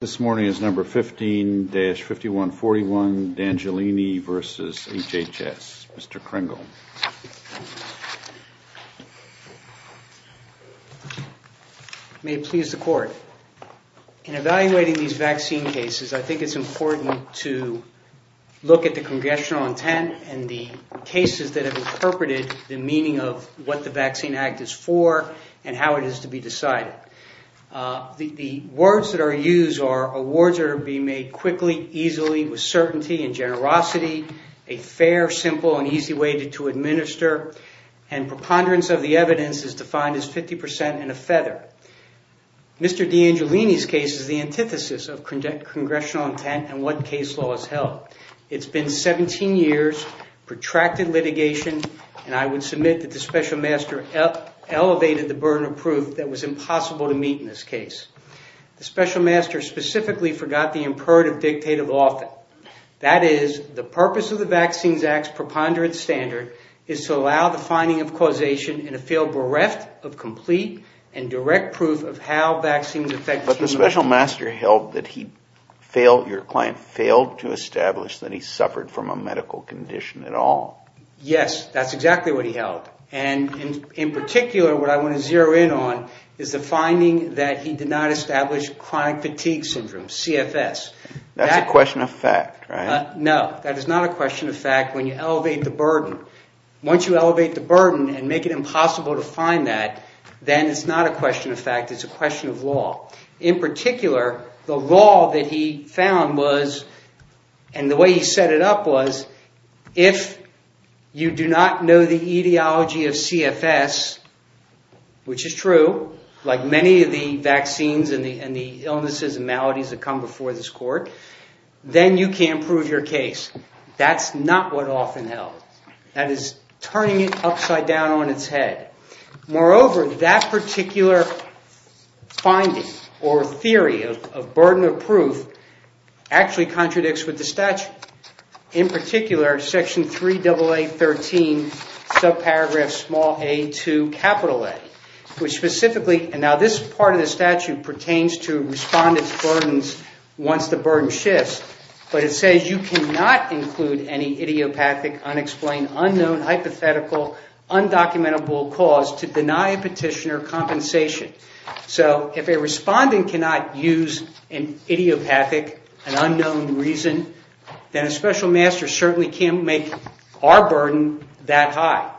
This morning is number 15-5141 D'Angiolini v. HHS. Mr. Kringle. May it please the court. In evaluating these vaccine cases, I think it's important to look at the congressional intent and the cases that have interpreted the meaning of what the Vaccine Decided. The words that are used are awards that are being made quickly, easily, with certainty and generosity, a fair, simple, and easy way to administer, and preponderance of the evidence is defined as 50% and a feather. Mr. D'Angiolini's case is the antithesis of congressional intent and what case law has held. It's been 17 years, protracted litigation, and I would submit that the Special Master elevated the burden of proof that was impossible to meet in this case. The Special Master specifically forgot the imperative dictative often, that is, the purpose of the Vaccines Act's preponderance standard is to allow the finding of causation in a field bereft of complete and direct proof of how vaccines affect the human body. But the Special Master held that he failed, your client failed, to establish that he suffered from a medical condition at all. Yes, that's exactly what he held, and in particular, what I want to zero in on is the finding that he did not establish chronic fatigue syndrome, CFS. That's a question of fact, right? No, that is not a question of fact when you elevate the burden. Once you elevate the burden and make it impossible to find that, then it's not a question of fact, it's a question of law. In particular, the law that he found was, and the way he set it up was, if you do not know the etiology of CFS, which is true, like many of the vaccines and the illnesses and maladies that come before this court, then you can't prove your case. That's not what often held. That is turning it or theory of burden of proof actually contradicts with the statute. In particular, section 3AA13, subparagraph small a to capital A, which specifically, and now this part of the statute pertains to respondents' burdens once the burden shifts, but it says you cannot include any idiopathic, unexplained, unknown, hypothetical, undocumentable cause to deny a petitioner bond and cannot use an idiopathic, an unknown reason, then a special master certainly can't make our burden that high.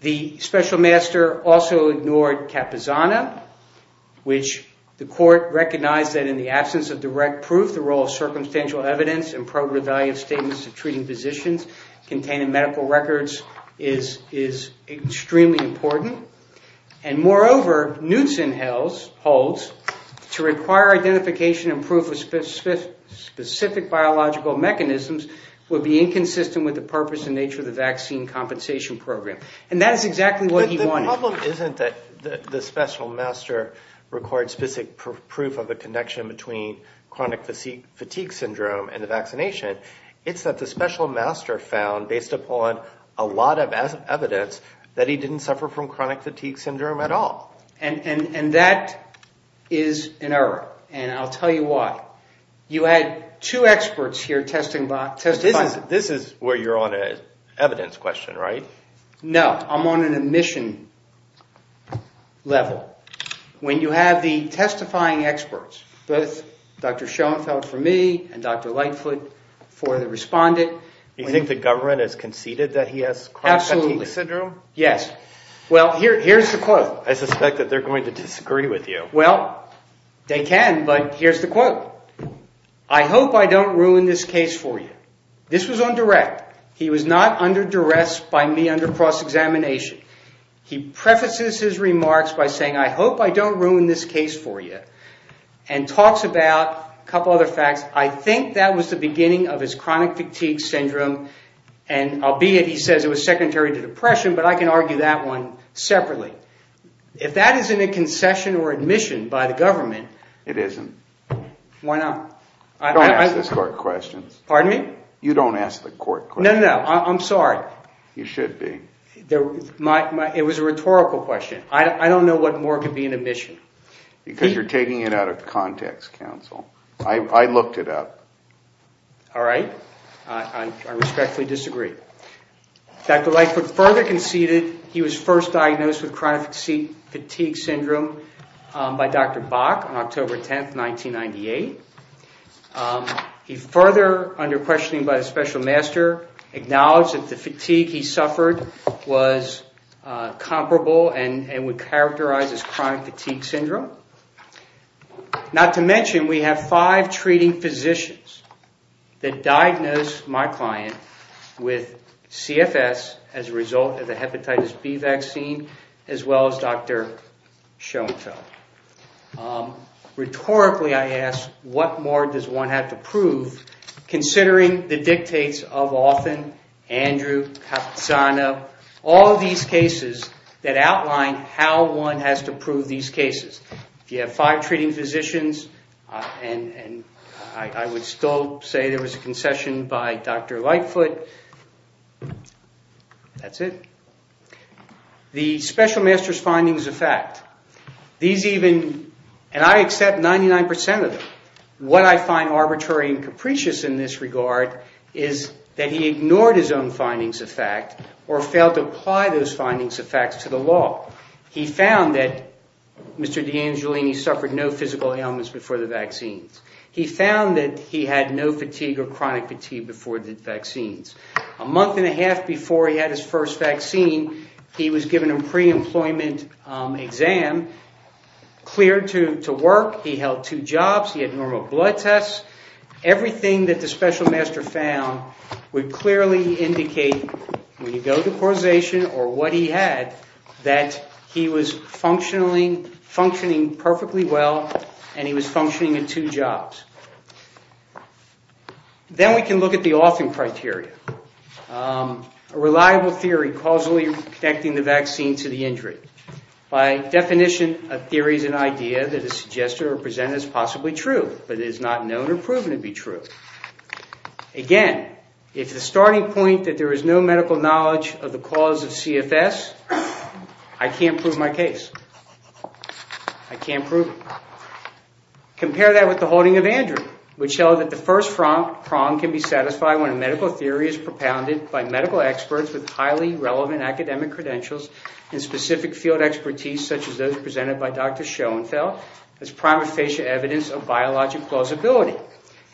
The special master also ignored capizana, which the court recognized that in the absence of direct proof, the role of circumstantial evidence and probative value statements to treating physicians containing medical records is extremely important. And moreover, Knutson holds to require identification and proof of specific biological mechanisms would be inconsistent with the purpose and nature of the vaccine compensation program. And that is exactly what he wanted. But the problem isn't that the special master records specific proof of a connection between chronic fatigue syndrome and the vaccination. It's that the special master found, based upon a lot of evidence, that he didn't suffer from chronic fatigue syndrome at all. And that is an error, and I'll tell you why. You had two experts here testifying. This is where you're on an evidence question, right? No, I'm on an admission level. When you have the testifying experts, both Dr. Schoenfeld for me and Dr. Lightfoot for the respondent. You think the government has conceded that he has chronic fatigue syndrome? Yes. Well, here's the quote. I suspect that they're going to disagree with you. Well, they can, but here's the quote. I hope I don't ruin this case for you. This was on direct. He was not under duress by me under cross-examination. He prefaces his remarks by saying, I hope I don't ruin this case for you, and talks about a couple other facts. I think that was the beginning of his chronic fatigue syndrome. Albeit, he says it was secondary to depression, but I can argue that one separately. If that isn't a concession or admission by the government... It isn't. Why not? Don't ask the court questions. Pardon me? You don't ask the court questions. No, no, no. I'm sorry. You should be. It was a rhetorical question. I don't know what more could be an admission. Because you're taking it out of context, counsel. I looked it up. All right. I respectfully disagree. Dr. Lightfoot further conceded he was first diagnosed with chronic fatigue syndrome by Dr. Bach on October 10, 1998. He further, under questioning by the special master, acknowledged that the fatigue he suffered was comparable and would characterize as chronic fatigue syndrome. Not to mention, we have five treating physicians that diagnosed my client with CFS as a result of the Hepatitis B vaccine, as well as Dr. Schoenfeld. Rhetorically, I ask, what more does one have to prove, considering the dictates of Alton, Andrew, Katsana, all of these cases that outline how one has to prove these cases? If you have five treating physicians, and I would still say there was a concession by Dr. Lightfoot, that's it. The special master's findings of fact, these even, and I accept 99% of them. What I find arbitrary and capricious in this regard is that he ignored his own findings of fact or failed to apply those findings of fact to the law. He found that Mr. DeAngelini suffered no physical ailments before the vaccines. He found that he had no fatigue or chronic fatigue before the vaccines. A month and a half before he had his first vaccine, he was given a pre-employment exam, cleared to work, he held two jobs, he had normal blood tests. Everything that the special master found would clearly indicate, when you go to causation or what he had, that he was functioning perfectly well and he was functioning in two jobs. Then we can look at the Alton criteria. A reliable theory causally connecting the vaccine to the injury. By definition, a theory is an idea that is suggested or presented as possibly true, but it is not known or proven to be true. Again, if the starting point that there is no medical knowledge of the cause of CFS, I can't prove my case. I can't prove it. Compare that with the holding of Andrew, which held that the first prong can be satisfied when a medical theory is propounded by medical experts with highly relevant academic credentials and specific field expertise such as those presented by Dr. Schoenfeld as prima facie evidence of biologic plausibility.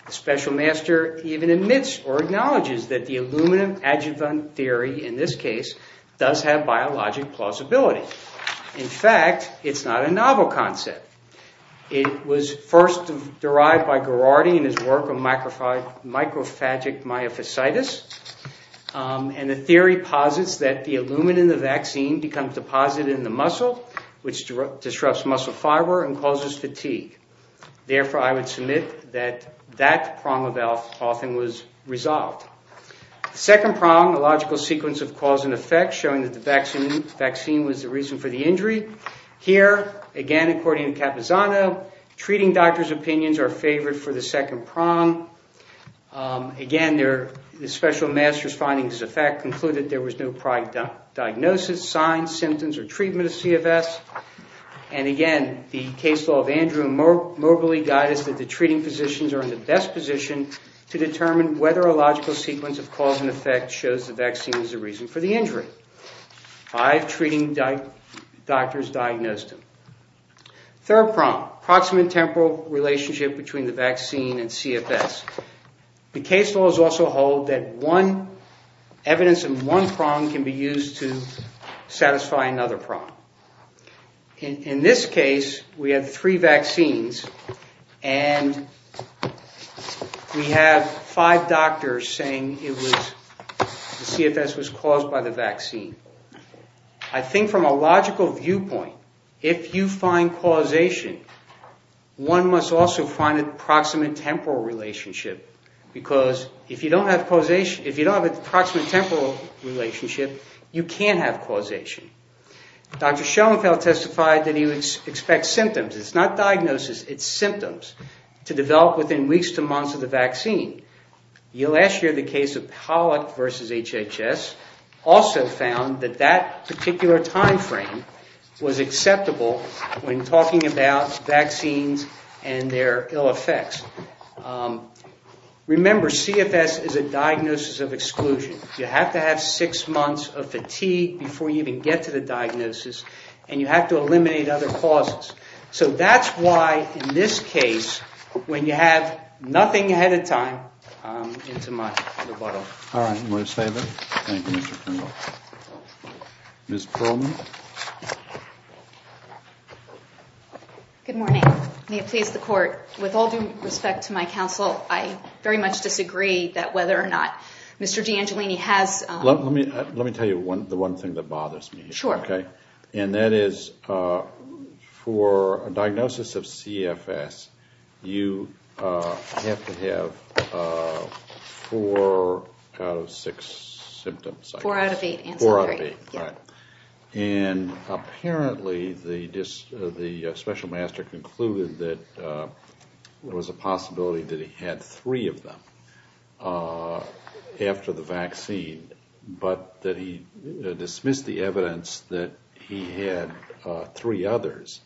The special master even admits or acknowledges that the aluminum adjuvant theory in this case does have biologic plausibility. In fact, it's not a novel concept. It was first derived by Garrardi in his work on microphagic myofasciitis, and the theory posits that the aluminum in the vaccine becomes deposited in the muscle, which disrupts muscle fiber and causes fatigue. Therefore, I would submit that that prong of health often was resolved. Second prong, a logical sequence of cause and effect, showing that the vaccine was the reason for the injury. Here, again, according to Capizano, treating doctors' opinions are favored for the second prong. Again, the special master's findings of fact concluded there was no prior diagnosis, signs, symptoms, or treatment of CFS. And again, the case law of Andrew and Moberly guide us that the treating physicians are in the best position to determine whether a logical sequence of cause and effect shows the vaccine is the reason for the injury. Five treating doctors diagnosed him. Third prong, approximate temporal relationship between the vaccine and CFS. The case laws also hold that evidence in one prong can be used to satisfy another prong. In this case, we have three vaccines, and we have five doctors saying the CFS was caused by the vaccine. I think from a logical viewpoint, if you find causation, one must also find an approximate temporal relationship. Because if you don't have a proximate temporal relationship, you can't have causation. Dr. Schoenfeld testified that he would expect symptoms, it's not diagnosis, it's symptoms, to develop within weeks to months of the vaccine. Last year, the case of Pollock versus HHS also found that that particular time frame was acceptable when talking about vaccines and their ill effects. Remember, CFS is a diagnosis of exclusion. You have to have six months of fatigue before you even get to the diagnosis, and you have to eliminate other causes. So that's why, in this case, when you have nothing ahead of time, it's a much better model. All right, all those in favor? Thank you, Mr. Kringle. Ms. Perlman. Good morning. May it please the court. With all due respect to my counsel, I very much disagree that whether or not Mr. DeAngelini has... Let me tell you the one thing that bothers me. Sure. And that is, for a diagnosis of CFS, you have to have four out of six symptoms. Four out of eight. Four out of eight, right. And apparently, the special master concluded that there was a possibility that he had three of them after the vaccine, but that he dismissed the evidence that he had three others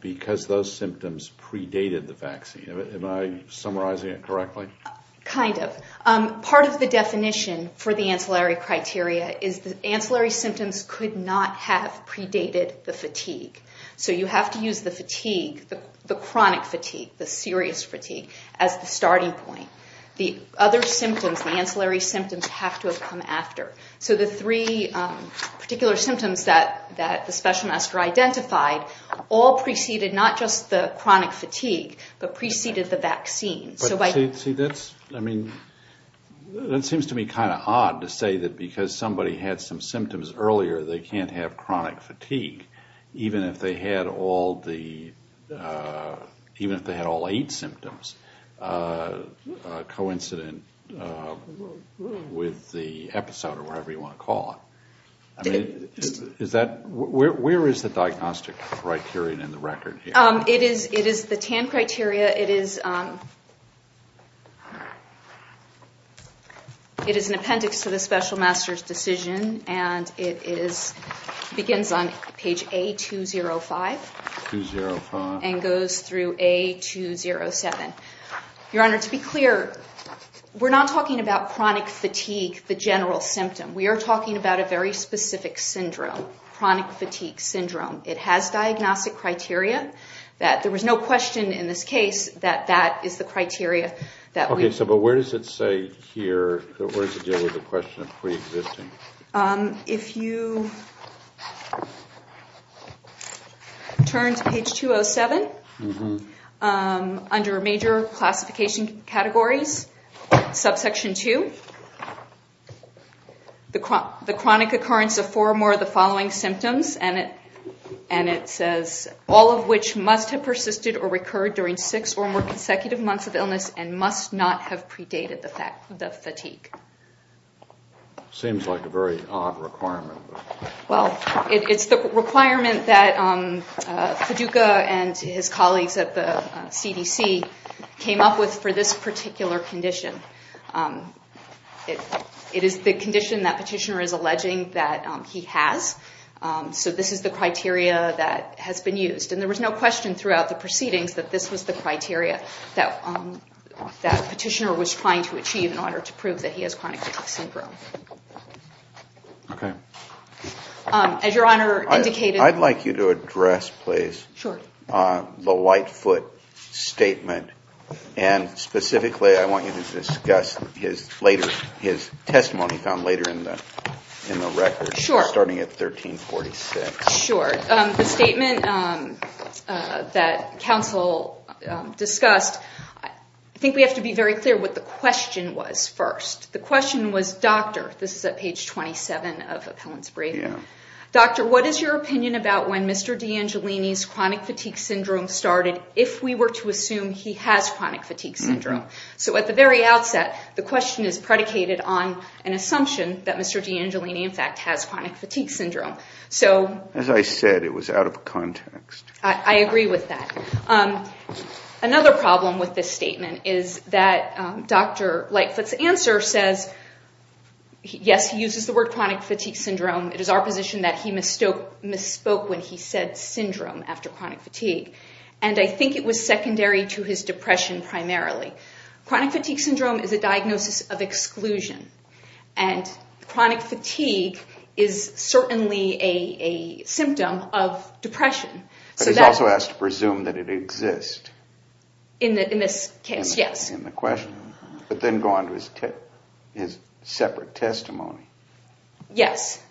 because those symptoms predated the vaccine. Am I summarizing it correctly? Kind of. Part of the definition for the ancillary criteria is that ancillary symptoms could not have predated the fatigue. So you have to use the fatigue, the chronic fatigue, the serious fatigue, as the starting point. The other symptoms, the ancillary symptoms, have to have come after. So the three particular symptoms that the special master identified all preceded not just the chronic fatigue, but preceded the vaccine. But see, that's, I mean, that seems to me kind of odd to say that because somebody had some symptoms earlier, they can't have chronic fatigue, even if they had all the... even if they had all eight symptoms. Coincident with the episode, or whatever you want to call it. I mean, is that... Where is the diagnostic criterion in the record here? It is the TAN criteria. It is an appendix to the special master's decision, and it begins on page A205. 205. And goes through A207. Your Honor, to be clear, we're not talking about chronic fatigue, the general symptom. We are talking about a very specific syndrome. Chronic fatigue syndrome. It has diagnostic criteria that there was no question in this case that that is the criteria that we... Okay, so but where does it say here, where does it deal with the question of pre-existing? If you... turn to page 207, under major classification categories, subsection 2, the chronic occurrence of four or more of the following symptoms, and it says, all of which must have persisted or recurred during six or more consecutive months of illness and must not have predated the fatigue. Seems like a very odd requirement. Well, it's the requirement that Feduka and his colleagues at the CDC came up with for this particular condition. It is the condition that petitioner is alleging that he has. So this is the criteria that has been used. And there was no question throughout the proceedings that this was the criteria that petitioner was trying to achieve in order to prove that he has chronic fatigue syndrome. Okay. As your honor indicated... I'd like you to address, please, the Whitefoot statement. And specifically, I want you to discuss his testimony found later in the record. Sure. Starting at 1346. Sure. The statement that counsel discussed, I think we have to be very clear what the question was first. The question was, doctor, this is at page 27 of appellant's briefing. Yeah. Doctor, what is your opinion about when Mr. DeAngelini's chronic fatigue syndrome started if we were to assume he has chronic fatigue syndrome? So at the very outset, the question is predicated on an assumption that Mr. DeAngelini, in fact, has chronic fatigue syndrome. So... As I said, it was out of context. I agree with that. Another problem with this statement is that Dr. Whitefoot's answer says, yes, he uses the word chronic fatigue syndrome. It is our position that he misspoke when he said syndrome after chronic fatigue. And I think it was secondary to his depression primarily. Chronic fatigue syndrome is a diagnosis of exclusion. And chronic fatigue is certainly a symptom of depression. But he's also asked to presume that it exists. In this case, yes. But then go on to his separate testimony. Yes.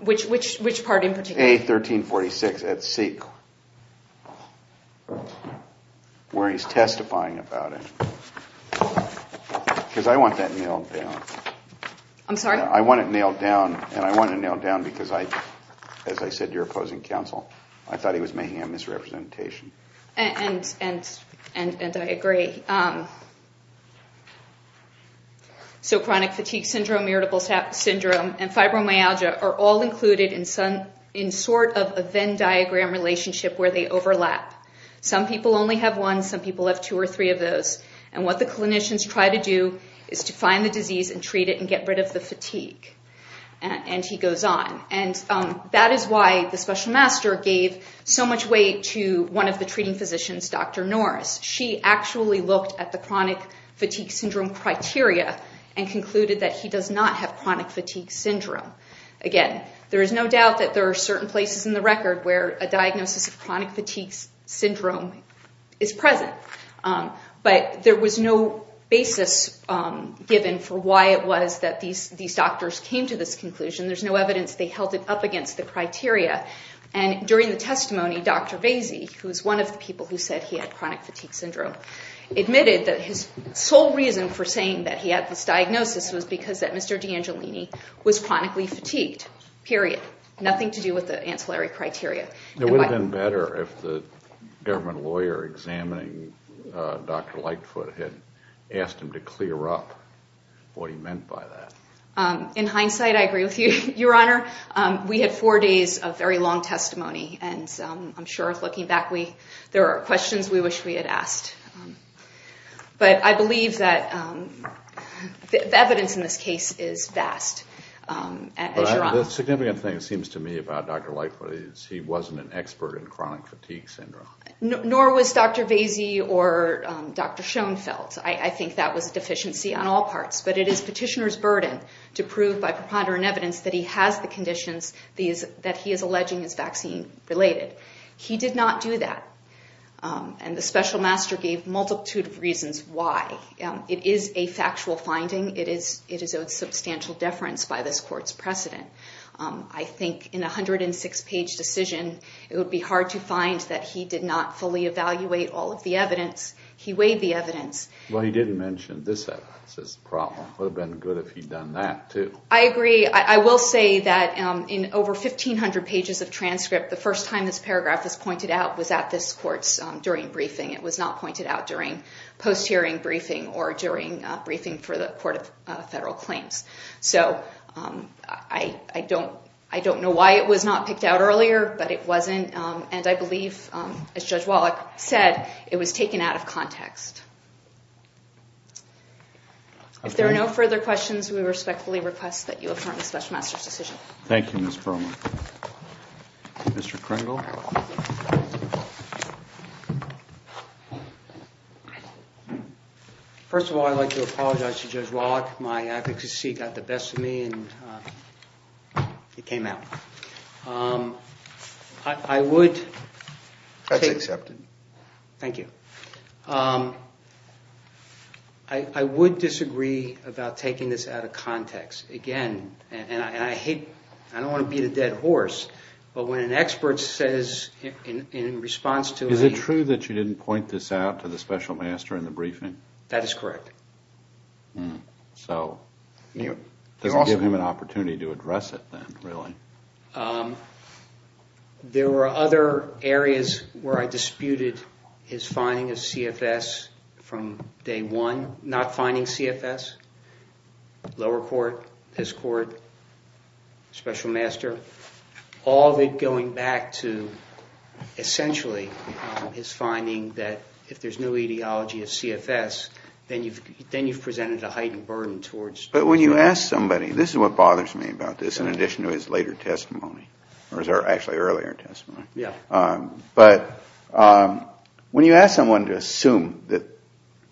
Which part in particular? A1346 at C, where he's testifying about it. Because I want that nailed down. I'm sorry? I want it nailed down. And I want it nailed down because I, as I said, you're opposing counsel. I thought he was making a misrepresentation. And I agree. Yes. So chronic fatigue syndrome, irritable syndrome, and fibromyalgia are all included in sort of a Venn diagram relationship where they overlap. Some people only have one. Some people have two or three of those. And what the clinicians try to do is to find the disease and treat it and get rid of the fatigue. And he goes on. And that is why the special master gave so much weight to one of the treating physicians, Dr. Norris. She actually looked at the chronic fatigue syndrome criteria and concluded that he does not have chronic fatigue syndrome. Again, there is no doubt that there are certain places in the record where a diagnosis of chronic fatigue syndrome is present. But there was no basis given for why it was that these doctors came to this conclusion. There's no evidence they held it up against the criteria. And during the testimony, Dr. Vasey, who is one of the people who said he had chronic fatigue syndrome, admitted that his sole reason for saying that he had this diagnosis was because that Mr. DeAngelini was chronically fatigued, period. Nothing to do with the ancillary criteria. It would have been better if the government lawyer examining Dr. Lightfoot had asked him to clear up what he meant by that. In hindsight, I agree with you, Your Honor. We had four days of very long testimony. And I'm sure, looking back, there are questions we wish we had asked. But I believe that the evidence in this case is vast, Your Honor. The significant thing, it seems to me, about Dr. Lightfoot is he wasn't an expert in chronic fatigue syndrome. Nor was Dr. Vasey or Dr. Schoenfeld. I think that was a deficiency on all parts. But it is petitioner's burden to prove by preponderant evidence that he has the conditions that he is alleging is vaccine-related. He did not do that. And the special master gave multitude of reasons why. It is a factual finding. It is of substantial deference by this court's precedent. I think in a 106-page decision, it would be hard to find that he did not fully evaluate all of the evidence. He weighed the evidence. Well, he didn't mention this evidence as the problem. It would have been good if he'd done that, too. I agree. I will say that in over 1,500 pages of transcript, the first time this paragraph was pointed out was at this court's during briefing. It was not pointed out during post-hearing briefing or during briefing for the Court of Federal Claims. So I don't know why it was not picked out earlier. But it wasn't. And I believe, as Judge Wallach said, it was taken out of context. If there are no further questions, we respectfully request that you affirm the special master's decision. Thank you, Ms. Perlman. Mr. Kringle? First of all, I'd like to apologize to Judge Wallach. My advocacy got the best of me, and it came out. I would take- That's accepted. Thank you. I would disagree about taking this out of context. Again, and I hate- I don't want to beat a dead horse, but when an expert says in response to a- Is it true that you didn't point this out to the special master in the briefing? That is correct. So it doesn't give him an opportunity to address it then, really. There were other areas where I disputed his finding of CFS from day one. Not finding CFS, lower court, this court, special master. All of it going back to, essentially, his finding that if there's no ideology of CFS, then you've presented a heightened burden towards- But when you ask somebody- This is what bothers me about this, in addition to his later testimony. Or actually, earlier testimony. But when you ask someone to assume that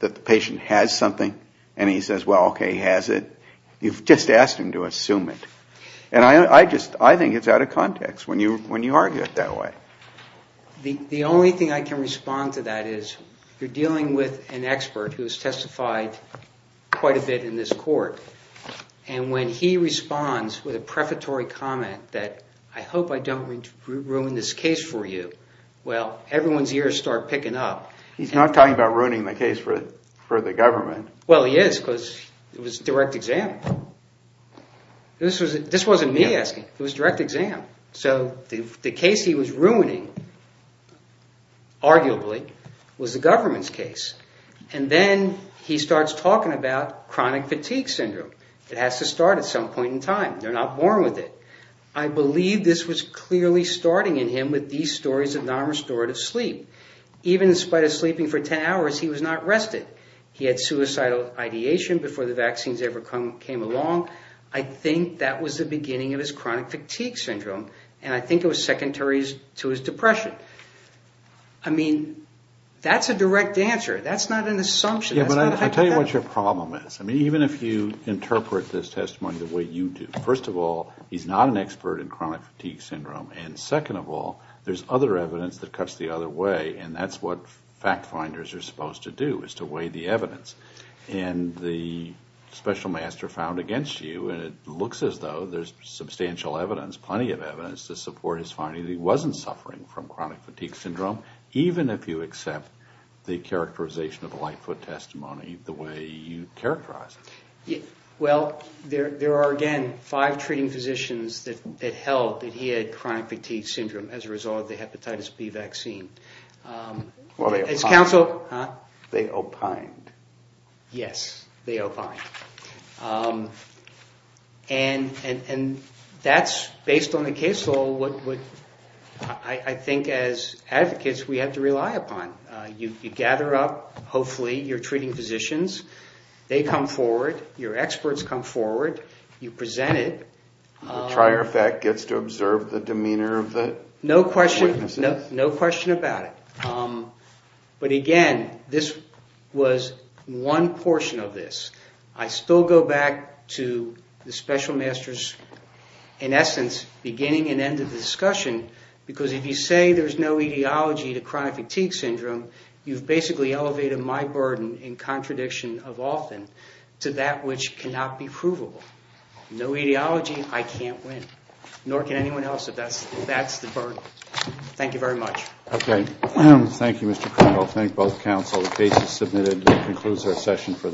the patient has something, and he says, well, okay, he has it, you've just asked him to assume it. And I think it's out of context when you argue it that way. The only thing I can respond to that is, you're dealing with an expert who has testified quite a bit in this court. And when he responds with a prefatory comment that, I hope I don't ruin this case for you, well, everyone's ears start picking up. He's not talking about ruining the case for the government. Well, he is, because it was direct exam. This wasn't me asking, it was direct exam. So the case he was ruining, arguably, was the government's case. And then he starts talking about chronic fatigue syndrome. It has to start at some point in time. They're not born with it. I believe this was clearly starting in him with these stories of non-restorative sleep. Even in spite of sleeping for 10 hours, he was not rested. He had suicidal ideation before the vaccines ever came along. I think that was the beginning of his chronic fatigue syndrome. And I think it was secondaries to his depression. I mean, that's a direct answer. That's not an assumption. Yeah, but I'll tell you what your problem is. I mean, even if you interpret this testimony the way you do, first of all, he's not an expert in chronic fatigue syndrome. And second of all, there's other evidence that cuts the other way. And that's what fact finders are supposed to do, is to weigh the evidence. And the special master found against you, and it looks as though there's substantial evidence, plenty of evidence to support his finding that he wasn't suffering from chronic fatigue syndrome, even if you accept the characterization of a lightfoot testimony the way you characterize it. Well, there are, again, five treating physicians that held that he had chronic fatigue syndrome as a result of the hepatitis B vaccine. Well, they opined. Huh? They opined. Yes, they opined. And that's, based on the case law, what I think as advocates we have to rely upon. You gather up, hopefully, your treating physicians. They come forward. Your experts come forward. You present it. And the trier effect gets to observe the demeanor of the witnesses? No question about it. But again, this was one portion of this. I still go back to the special masters, in essence, beginning and end of the discussion. Because if you say there's no etiology to chronic fatigue syndrome, you've basically elevated my burden in contradiction of often to that which cannot be provable. No etiology, I can't win. Nor can anyone else if that's the burden. Thank you very much. Okay. Thank you, Mr. Cronin. I'll thank both counsel. The case is submitted and concludes our session.